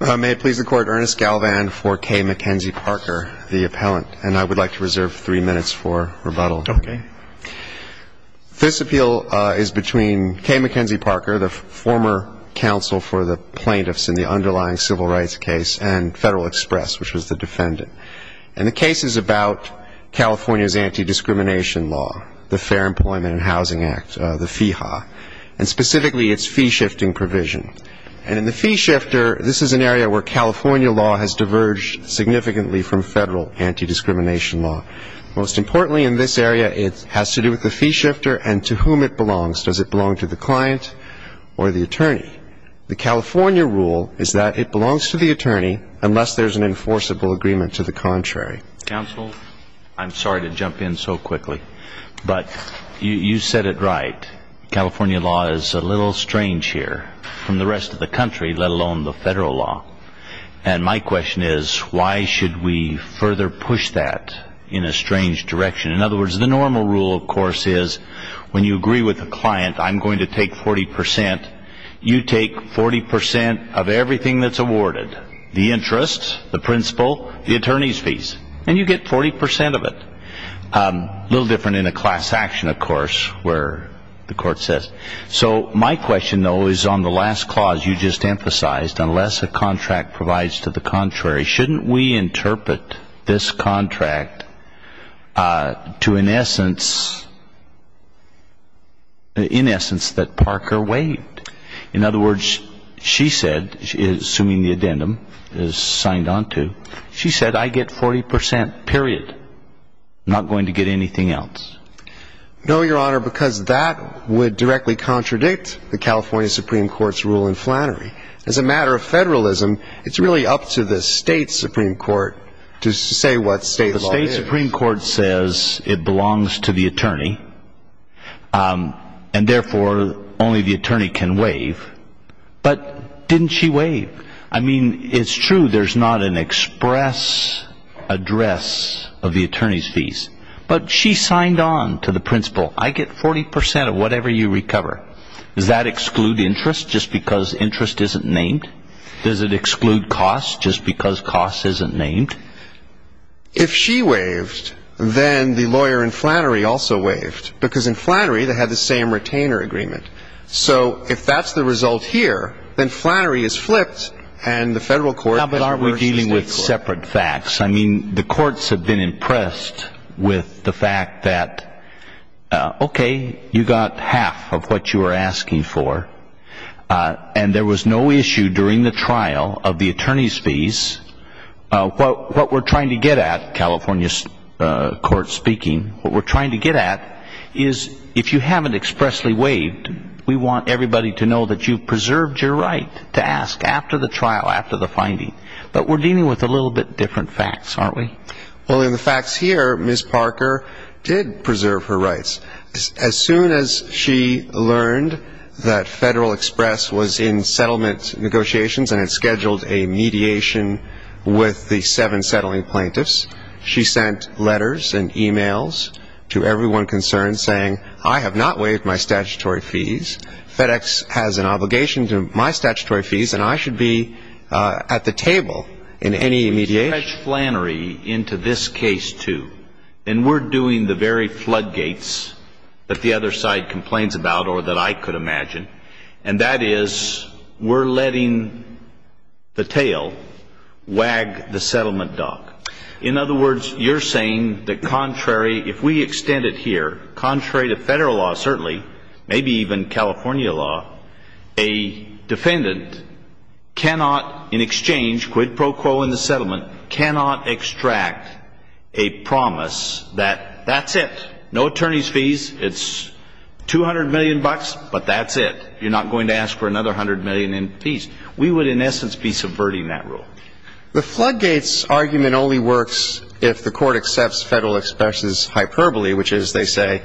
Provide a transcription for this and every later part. May it please the court, Ernest Galvan for Kay McKenzie Parker, the appellant, and I would like to reserve three minutes for rebuttal. Okay. This appeal is between Kay McKenzie Parker, the former counsel for the plaintiffs in the underlying civil rights case, and Federal Express, which was the defendant. And the case is about California's anti-discrimination law, the Fair Employment and Housing Act, the FIHA, and specifically its fee shifting provision. And in the fee shifter, this is an area where California law has diverged significantly from federal anti-discrimination law. Most importantly in this area, it has to do with the fee shifter and to whom it belongs. Does it belong to the client or the attorney? The California rule is that it belongs to the attorney unless there's an enforceable agreement to the contrary. Counsel, I'm sorry to jump in so quickly, but you said it right. California law is a little strange here from the rest of the country, let alone the federal law. And my question is, why should we further push that in a strange direction? In other words, the normal rule, of course, is when you agree with a client, I'm going to take 40 percent, you take 40 percent of everything that's awarded, the interest, the principal, the attorney's fees, and you get 40 percent of it. A little different in a class action, of course, where the court says. So my question, though, is on the last clause you just emphasized, unless a contract provides to the contrary, shouldn't we interpret this contract to an essence, in essence, that she said, assuming the addendum is signed on to, she said, I get 40 percent, period. Not going to get anything else. No, Your Honor, because that would directly contradict the California Supreme Court's rule in Flannery. As a matter of federalism, it's really up to the state Supreme Court to say what state law is. The state Supreme Court says it belongs to the attorney. And therefore, only the attorney can waive. But didn't she waive? I mean, it's true, there's not an express address of the attorney's fees. But she signed on to the principal. I get 40 percent of whatever you recover. Does that exclude interest just because interest isn't named? Does it exclude cost just because cost isn't named? If she waived, then the lawyer in Flannery also waived. Because in Flannery, they had the same retainer agreement. So if that's the result here, then Flannery is flipped and the federal court has to be dealing with separate facts. How about our versus the state court? I mean, the courts have been impressed with the fact that, okay, you got half of what you were asking for, and there was no issue during the trial of the attorney's fees. What we're trying to get at, California's court speaking, what we're trying to get at is, if you haven't expressly waived, we want everybody to know that you preserved your right to ask after the trial, after the finding. But we're dealing with a little bit different facts, aren't we? Well, in the facts here, Ms. Parker did preserve her rights. As soon as she learned that Federal Government negotiations and had scheduled a mediation with the seven settling plaintiffs, she sent letters and e-mails to everyone concerned saying, I have not waived my statutory fees. FedEx has an obligation to my statutory fees, and I should be at the table in any mediation. We've merged Flannery into this case, too. And we're doing the very floodgates that the tail wag the settlement dock. In other words, you're saying that contrary, if we extend it here, contrary to Federal law certainly, maybe even California law, a defendant cannot in exchange, quid pro quo in the settlement, cannot extract a promise that that's it. No attorney's fees, it's 200 million bucks, but that's it. You're not going to ask for another hundred million in fees. We would, in essence, be subverting that rule. The floodgates argument only works if the court accepts Federal Express's hyperbole, which is, they say,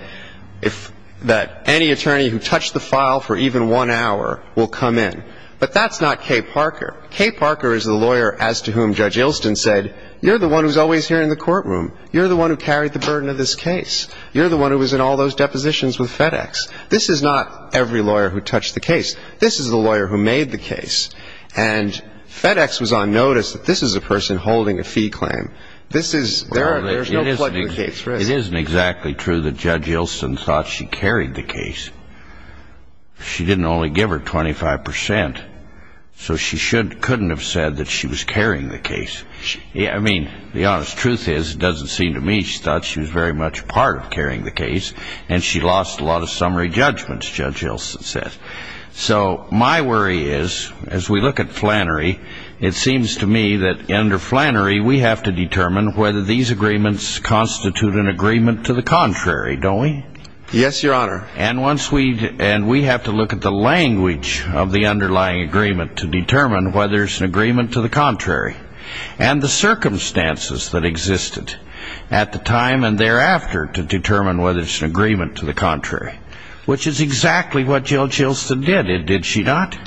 that any attorney who touched the file for even one hour will come in. But that's not Kay Parker. Kay Parker is the lawyer as to whom Judge Ilston said, you're the one who's always here in the courtroom. You're the one who carried the burden of this case. You're the one who was in all those depositions with FedEx. This is not every lawyer who made the case. And FedEx was on notice that this is a person holding a fee claim. This is, there are, there's no floodgates risk. It isn't exactly true that Judge Ilston thought she carried the case. She didn't only give her 25 percent, so she shouldn't, couldn't have said that she was carrying the case. I mean, the honest truth is, it doesn't seem to me she thought she was very much a part of carrying the case, and she lost a lot of summary judgments, Judge Ilston said. So my worry is, as we look at Flannery, it seems to me that under Flannery, we have to determine whether these agreements constitute an agreement to the contrary, don't we? Yes, Your Honor. And once we, and we have to look at the language of the underlying agreement to determine whether it's an agreement to the contrary. And the circumstances that existed at the time and thereafter to determine whether it's an agreement to the contrary. Which is exactly what Jill Ilston did, did she not?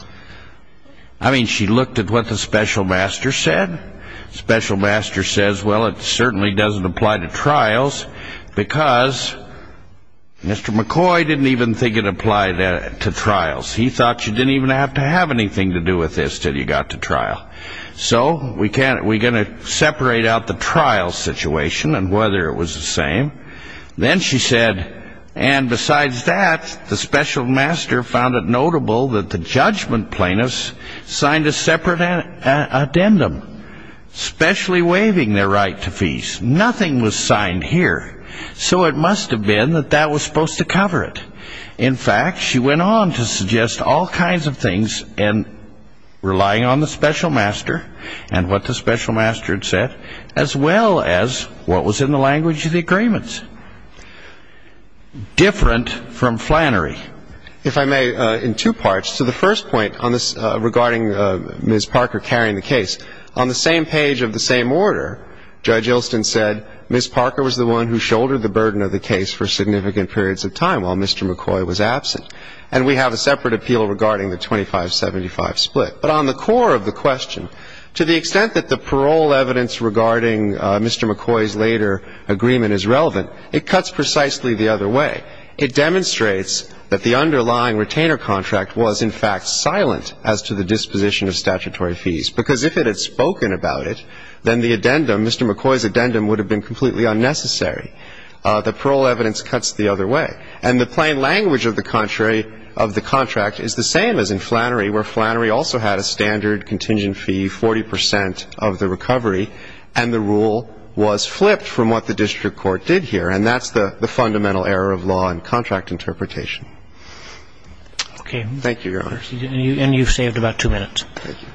I mean, she looked at what the special master said. Special master says, well, it certainly doesn't apply to trials, because Mr. McCoy didn't even think it applied to trials. He thought she didn't even have to have anything to do with this till you got to trial. So, we can't, we're going to separate out the trial situation and whether it was the same. Then she said, and besides that, the special master found it notable that the judgment plaintiffs signed a separate addendum, specially waiving their right to feast. Nothing was signed here. So it must have been that that was supposed to cover it. In fact, she went on to suggest all kinds of things, relying on the special master and what the special master had said, as well as what was in the language of the agreements. Different from Flannery. If I may, in two parts. So the first point on this, regarding Ms. Parker carrying the case, on the same page of the same order, Judge Ilston said, Ms. Parker was the one who shouldered the burden of the case for significant periods of time while Mr. McCoy was absent. And we have a separate appeal regarding the 25-75 split. But on the core of the question, to the extent that the parole evidence regarding Mr. McCoy's later agreement is relevant, it cuts precisely the other way. It demonstrates that Ms. Parker's claim that the underlying retainer contract was, in fact, silent as to the disposition of statutory fees. Because if it had spoken about it, then the addendum, Mr. McCoy's addendum, would have been completely unnecessary. The parole evidence cuts the other way. And the plain language of the contract is the same as in Flannery, where Flannery also had a standard contingent fee, 40 percent of the recovery, and the rule was flipped from what the district court did here. And that's the fundamental error of law and Okay. Thank you, Your Honor. And you've saved about two minutes. Thank you.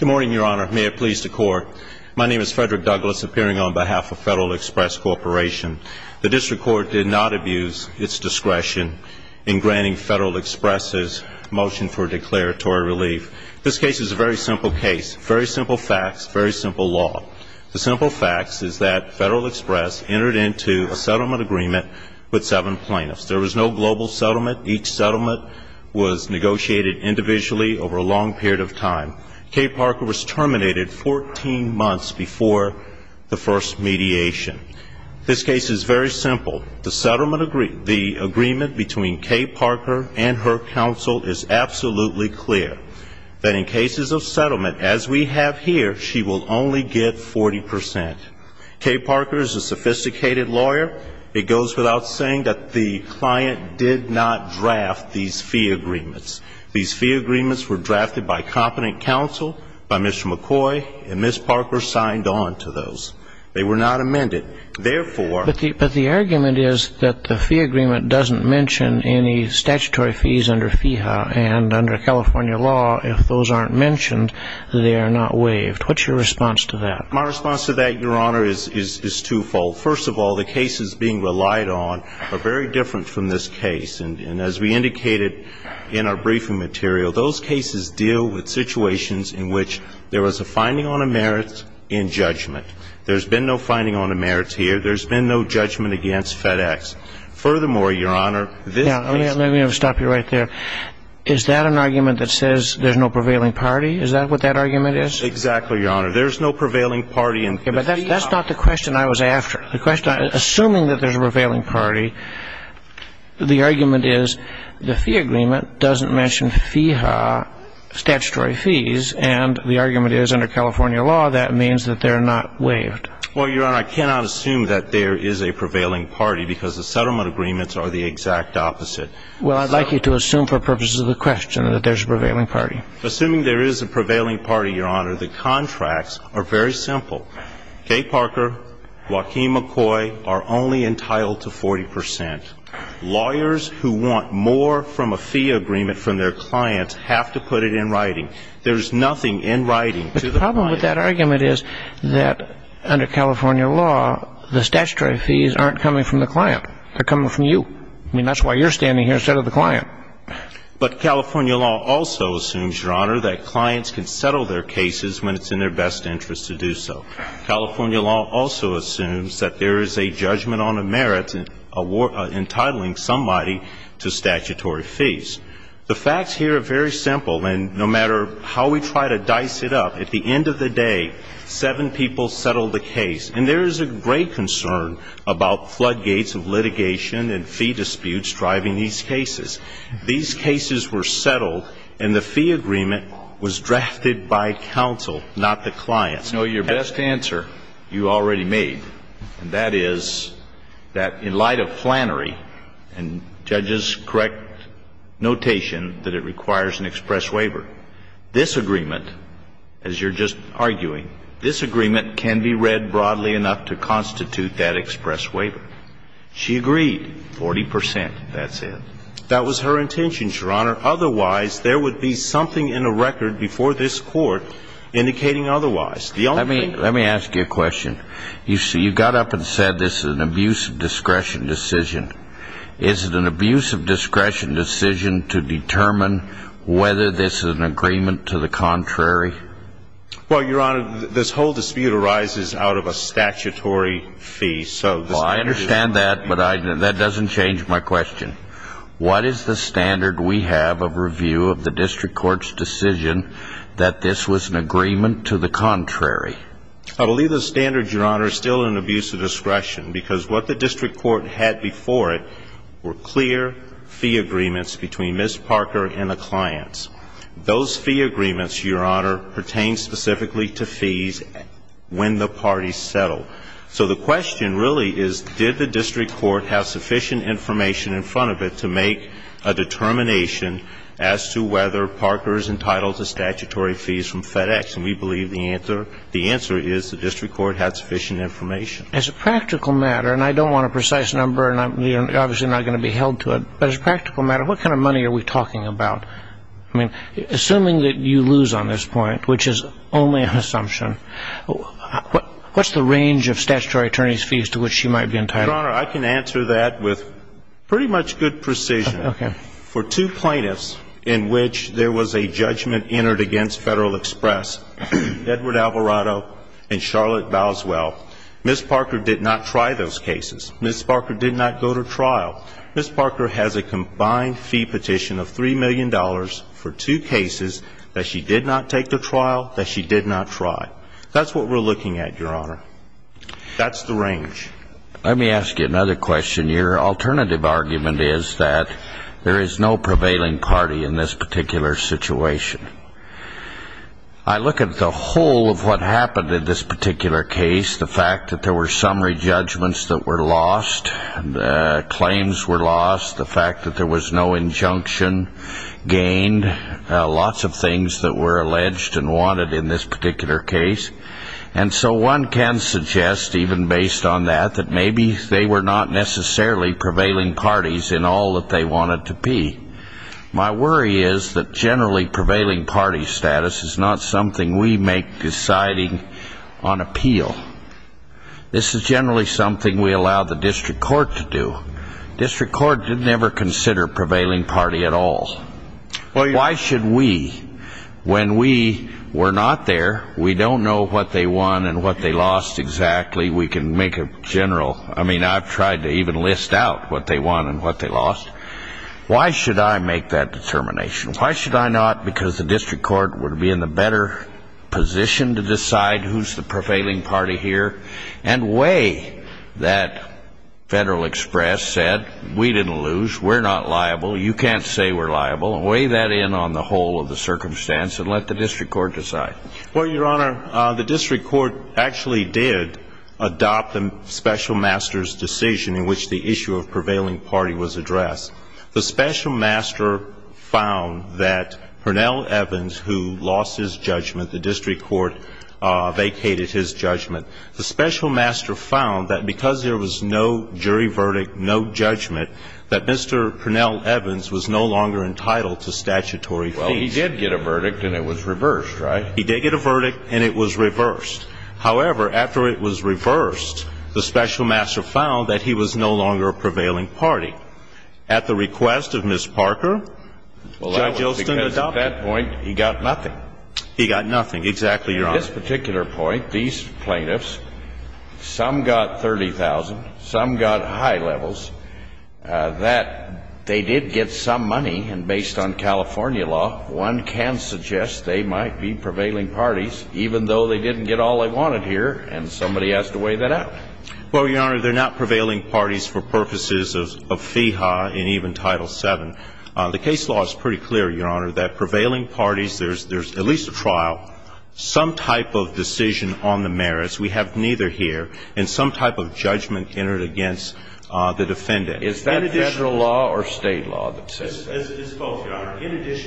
Good morning, Your Honor. May it please the Court. My name is Frederick Douglas, appearing on behalf of Federal Express Corporation. The district court did not abuse its discretion in granting Federal Express's motion for declaratory relief. This case is a very simple case, very simple facts, very simple law. The simple facts is that Federal Express entered into a settlement agreement with seven plaintiffs. There was no global settlement. Each settlement was negotiated individually over a long period of time. Kay Parker was terminated 14 months before the first mediation. This case is very simple. The settlement agreement, the agreement between Kay Parker and her counsel is absolutely clear, that in cases of settlement, as we have here, she will only get 40 percent. Kay Parker is a sophisticated lawyer. It goes without saying that the client did not draft these fee agreements. These fee agreements were drafted by competent counsel, by Mr. McCoy, and Ms. Parker signed on to those. They were not amended. Therefore the But the argument is that the fee agreement doesn't mention any statutory fees under FIHA, and under California law, if those aren't mentioned, they are not waived. What's your response to that? My response to that, Your Honor, is twofold. First of all, the cases being relied on are very different from this case. And as we indicated in our briefing material, those cases deal with situations in which there was a finding on a merits and judgment. There's been no finding on a merits here. There's been no judgment against FedEx. Furthermore, Your Honor, this case I'm going to stop you right there. Is that an argument that says there's no prevailing party? Is that what that argument is? Exactly, Your Honor. There's no prevailing party in FIHA. Okay. But that's not the question I was after. The question, assuming that there's a prevailing party, the argument is the fee agreement doesn't mention FIHA statutory fees, and the argument is, under California law, that means that they're not waived. Well, Your Honor, I cannot assume that there is a prevailing party, because the settlement agreements are the exact opposite. Well, I'd like you to assume for purposes of the question that there's a prevailing party. Assuming there is a prevailing party, Your Honor, the contracts are very simple. Kay Parker, Joaquin McCoy are only entitled to 40 percent. Lawyers who want more from a fee agreement from their clients have to put it in writing. There's nothing in writing to the client. The problem with that argument is that, under California law, the statutory fees aren't coming from the client. They're coming from you. I mean, that's why you're standing here instead of the client. But California law also assumes, Your Honor, that clients can settle their cases when it's in their best interest to do so. California law also assumes that there is a judgment on the merits entitling somebody to statutory fees. The facts here are very simple, and no matter how we try to dice it up, at the end of the day, seven people settled the case. And there is a great concern about floodgates of litigation and fee disputes driving these cases. These cases were settled, and the fee agreement was drafted by counsel, not the client. I know your best answer you already made, and that is that, in light of Flannery and judges' correct notation that it requires an express waiver, this agreement, as you're just arguing, this agreement can be read broadly enough to constitute that express waiver. She agreed, 40 percent, that's it. That was her intention, Your Honor. Otherwise, there would be something in the record before this Court indicating otherwise. Let me ask you a question. You got up and said this is an abuse of discretion decision. Is it an abuse of discretion decision to determine whether this is an agreement to the contrary? Well, Your Honor, this whole dispute arises out of a statutory fee. So this is an agreement to the contrary. Well, I understand that, but that doesn't change my question. What is the standard we have of review of the district court's decision that this was an agreement to the contrary? I believe the standard, Your Honor, is still an abuse of discretion, because what the district court had before it were clear fee agreements between Ms. Parker and the parties settled. So the question really is, did the district court have sufficient information in front of it to make a determination as to whether Parker is entitled to statutory fees from FedEx? And we believe the answer is the district court had sufficient information. As a practical matter, and I don't want a precise number and I'm obviously not going to be held to it, but as a practical matter, what kind of money are we talking about? I mean, assuming that you lose on this point, which is only an assumption, what's the range of statutory attorneys' fees to which you might be entitled? Your Honor, I can answer that with pretty much good precision. Okay. For two plaintiffs in which there was a judgment entered against Federal Express, Edward Alvarado and Charlotte Bowswell, Ms. Parker did not try those cases. Ms. Parker did not go to trial. Ms. Parker has a combined fee petition of $3 million for two cases that she did not take to trial, that she did not try. That's what we're looking at, Your Honor. That's the range. Let me ask you another question. Your alternative argument is that there is no prevailing party in this particular situation. I look at the whole of what happened in this particular case, the fact that there were summary judgments that were lost, claims were lost, the fact that there was no injunction gained, lots of things that were alleged and wanted in this particular case. And so one can suggest, even based on that, that maybe they were not necessarily prevailing parties in all that they wanted to be. My worry is that generally prevailing party status is not something we make deciding on appeal. This is generally something we allow the district court to do. District court did never consider prevailing party at all. Why should we, when we were not there, we don't know what they won and what they lost exactly, we can make a general, I mean, I've tried to even list out what they won and what they lost. Why should I make that determination? Why should I not, because the district court would be in a better position to decide who's the liable, you can't say we're liable, and weigh that in on the whole of the circumstance and let the district court decide. Well, Your Honor, the district court actually did adopt the special master's decision in which the issue of prevailing party was addressed. The special master found that Hernell Evans, who lost his judgment, the district court vacated his judgment, that Mr. Hernell Evans was no longer entitled to statutory fees. Well, he did get a verdict and it was reversed, right? He did get a verdict and it was reversed. However, after it was reversed, the special master found that he was no longer a prevailing party. At the request of Ms. Parker, Judge Olson adopted it. Well, that was because at that point he got nothing. He got nothing, exactly, Your Honor. At this particular point, these plaintiffs, some got $30,000, some got high levels, that they did get some money, and based on California law, one can suggest they might be prevailing parties, even though they didn't get all they wanted here, and somebody has to weigh that out. Well, Your Honor, they're not prevailing parties for purposes of FEHA and even Title VII. The case law is pretty clear, Your Honor, that prevailing parties, there's at least a trial, some type of decision on the merits, we have neither here, and some type of judgment entered against the defendant. Is that Federal law or State law that says that? It's both, Your Honor.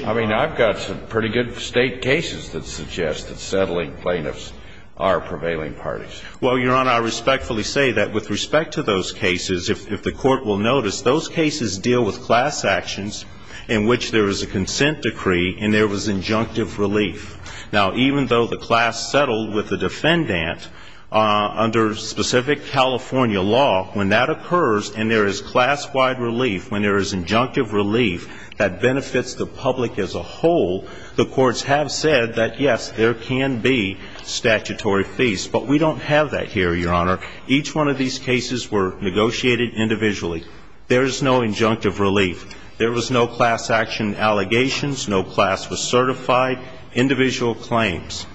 I mean, I've got some pretty good State cases that suggest that settling plaintiffs are prevailing parties. Well, Your Honor, I respectfully say that with respect to those cases, if the Court injunctive relief. Now, even though the class settled with the defendant under specific California law, when that occurs and there is class-wide relief, when there is injunctive relief that benefits the public as a whole, the Courts have said that, yes, there can be statutory fees. But we don't have that here, Your Honor. Each one of these cases were negotiated individually. There is no injunctive relief. There was no class action allegations. No class was certified. Individual claims.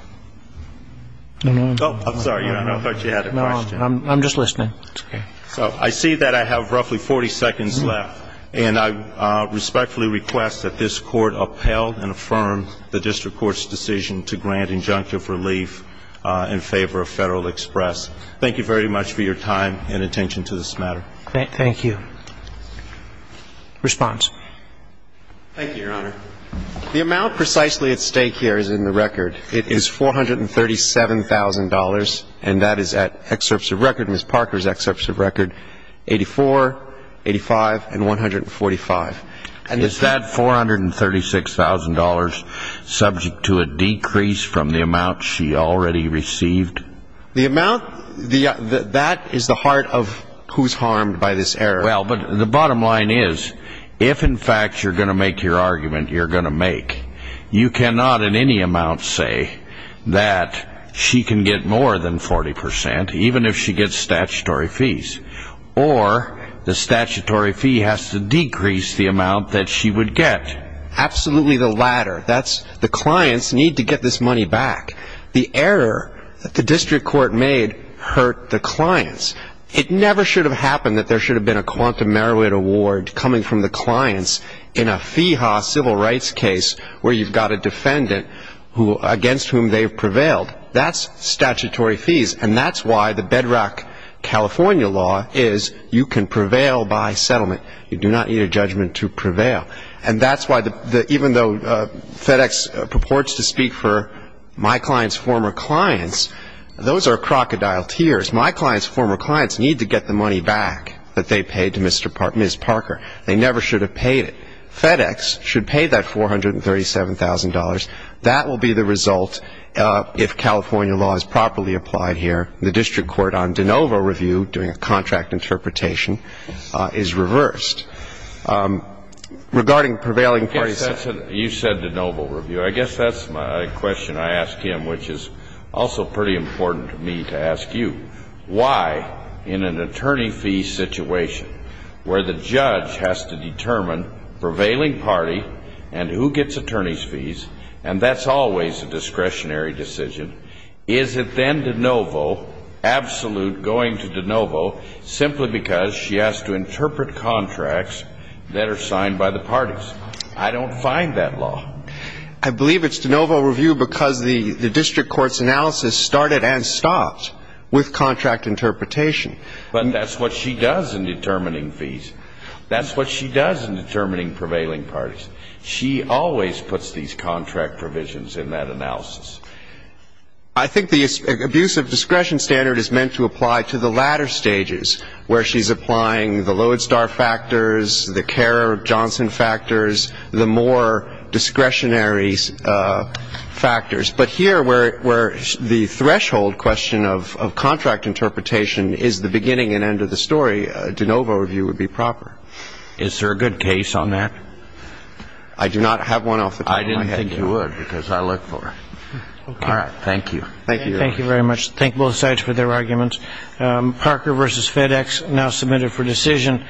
I'm sorry, Your Honor. I thought you had a question. No, I'm just listening. That's okay. So I see that I have roughly 40 seconds left. And I respectfully request that this Court upheld and affirm the District Court's decision to grant injunctive relief in favor of Federal Express. Thank you very much for your time and attention to this matter. Thank you. Response. Thank you, Your Honor. The amount precisely at stake here is in the record. It is $437,000, and that is at excerpts of record, Ms. Parker's excerpts of record, 84, 85, and 145. And is that $436,000 subject to a decrease from the amount she already received? The amount, that is the heart of who's harmed by this error. Well, but the bottom line is, if, in fact, you're going to make your argument you're going to make, you cannot in any amount say that she can get more than 40 percent, even if she gets statutory fees. Or the statutory fee has to decrease the amount that she would get. Absolutely the latter. The clients need to get this money back. The error that the District Court made hurt the clients. It never should have happened that there should have been a quantum merit award coming from the clients in a fee-ha civil rights case where you've got a defendant against whom they've prevailed. That's statutory fees. And that's why the bedrock California law is you can prevail by settlement. You do not need a judgment to prevail. And that's why, even though FedEx purports to speak for my client's former clients, those are crocodile tears. My client's former clients need to get the money back that they paid to Ms. Parker. They never should have paid it. FedEx should pay that $437,000. That will be the result if California law is properly applied here. The District Court on de novo review, doing a contract interpretation, is reversed. Regarding prevailing parties. You said de novo review. I guess that's my question I ask him, which is also pretty important to me to ask you. Why, in an attorney fee situation where the judge has to determine prevailing party and who gets attorney's fees, and that's always a discretionary decision, is it then de novo, absolute going to de novo, simply because she has to interpret contracts that are signed by the parties? I don't find that law. I believe it's de novo review because the District Court's analysis started and stopped with contract interpretation. But that's what she does in determining fees. That's what she does in determining prevailing parties. She always puts these contract provisions in that analysis. I think the abuse of discretion standard is meant to apply to the latter stages, where she's applying the Lodestar factors, the Kerr-Johnson factors, the more discretionary factors. But here where the threshold question of contract interpretation is the beginning and end of the story, de novo review would be proper. Is there a good case on that? I do not have one off the top of my head. I didn't think you would because I look for it. All right. Thank you. Thank you. Thank you very much. Thank both sides for their arguments. Parker v. FedEx now submitted for decision.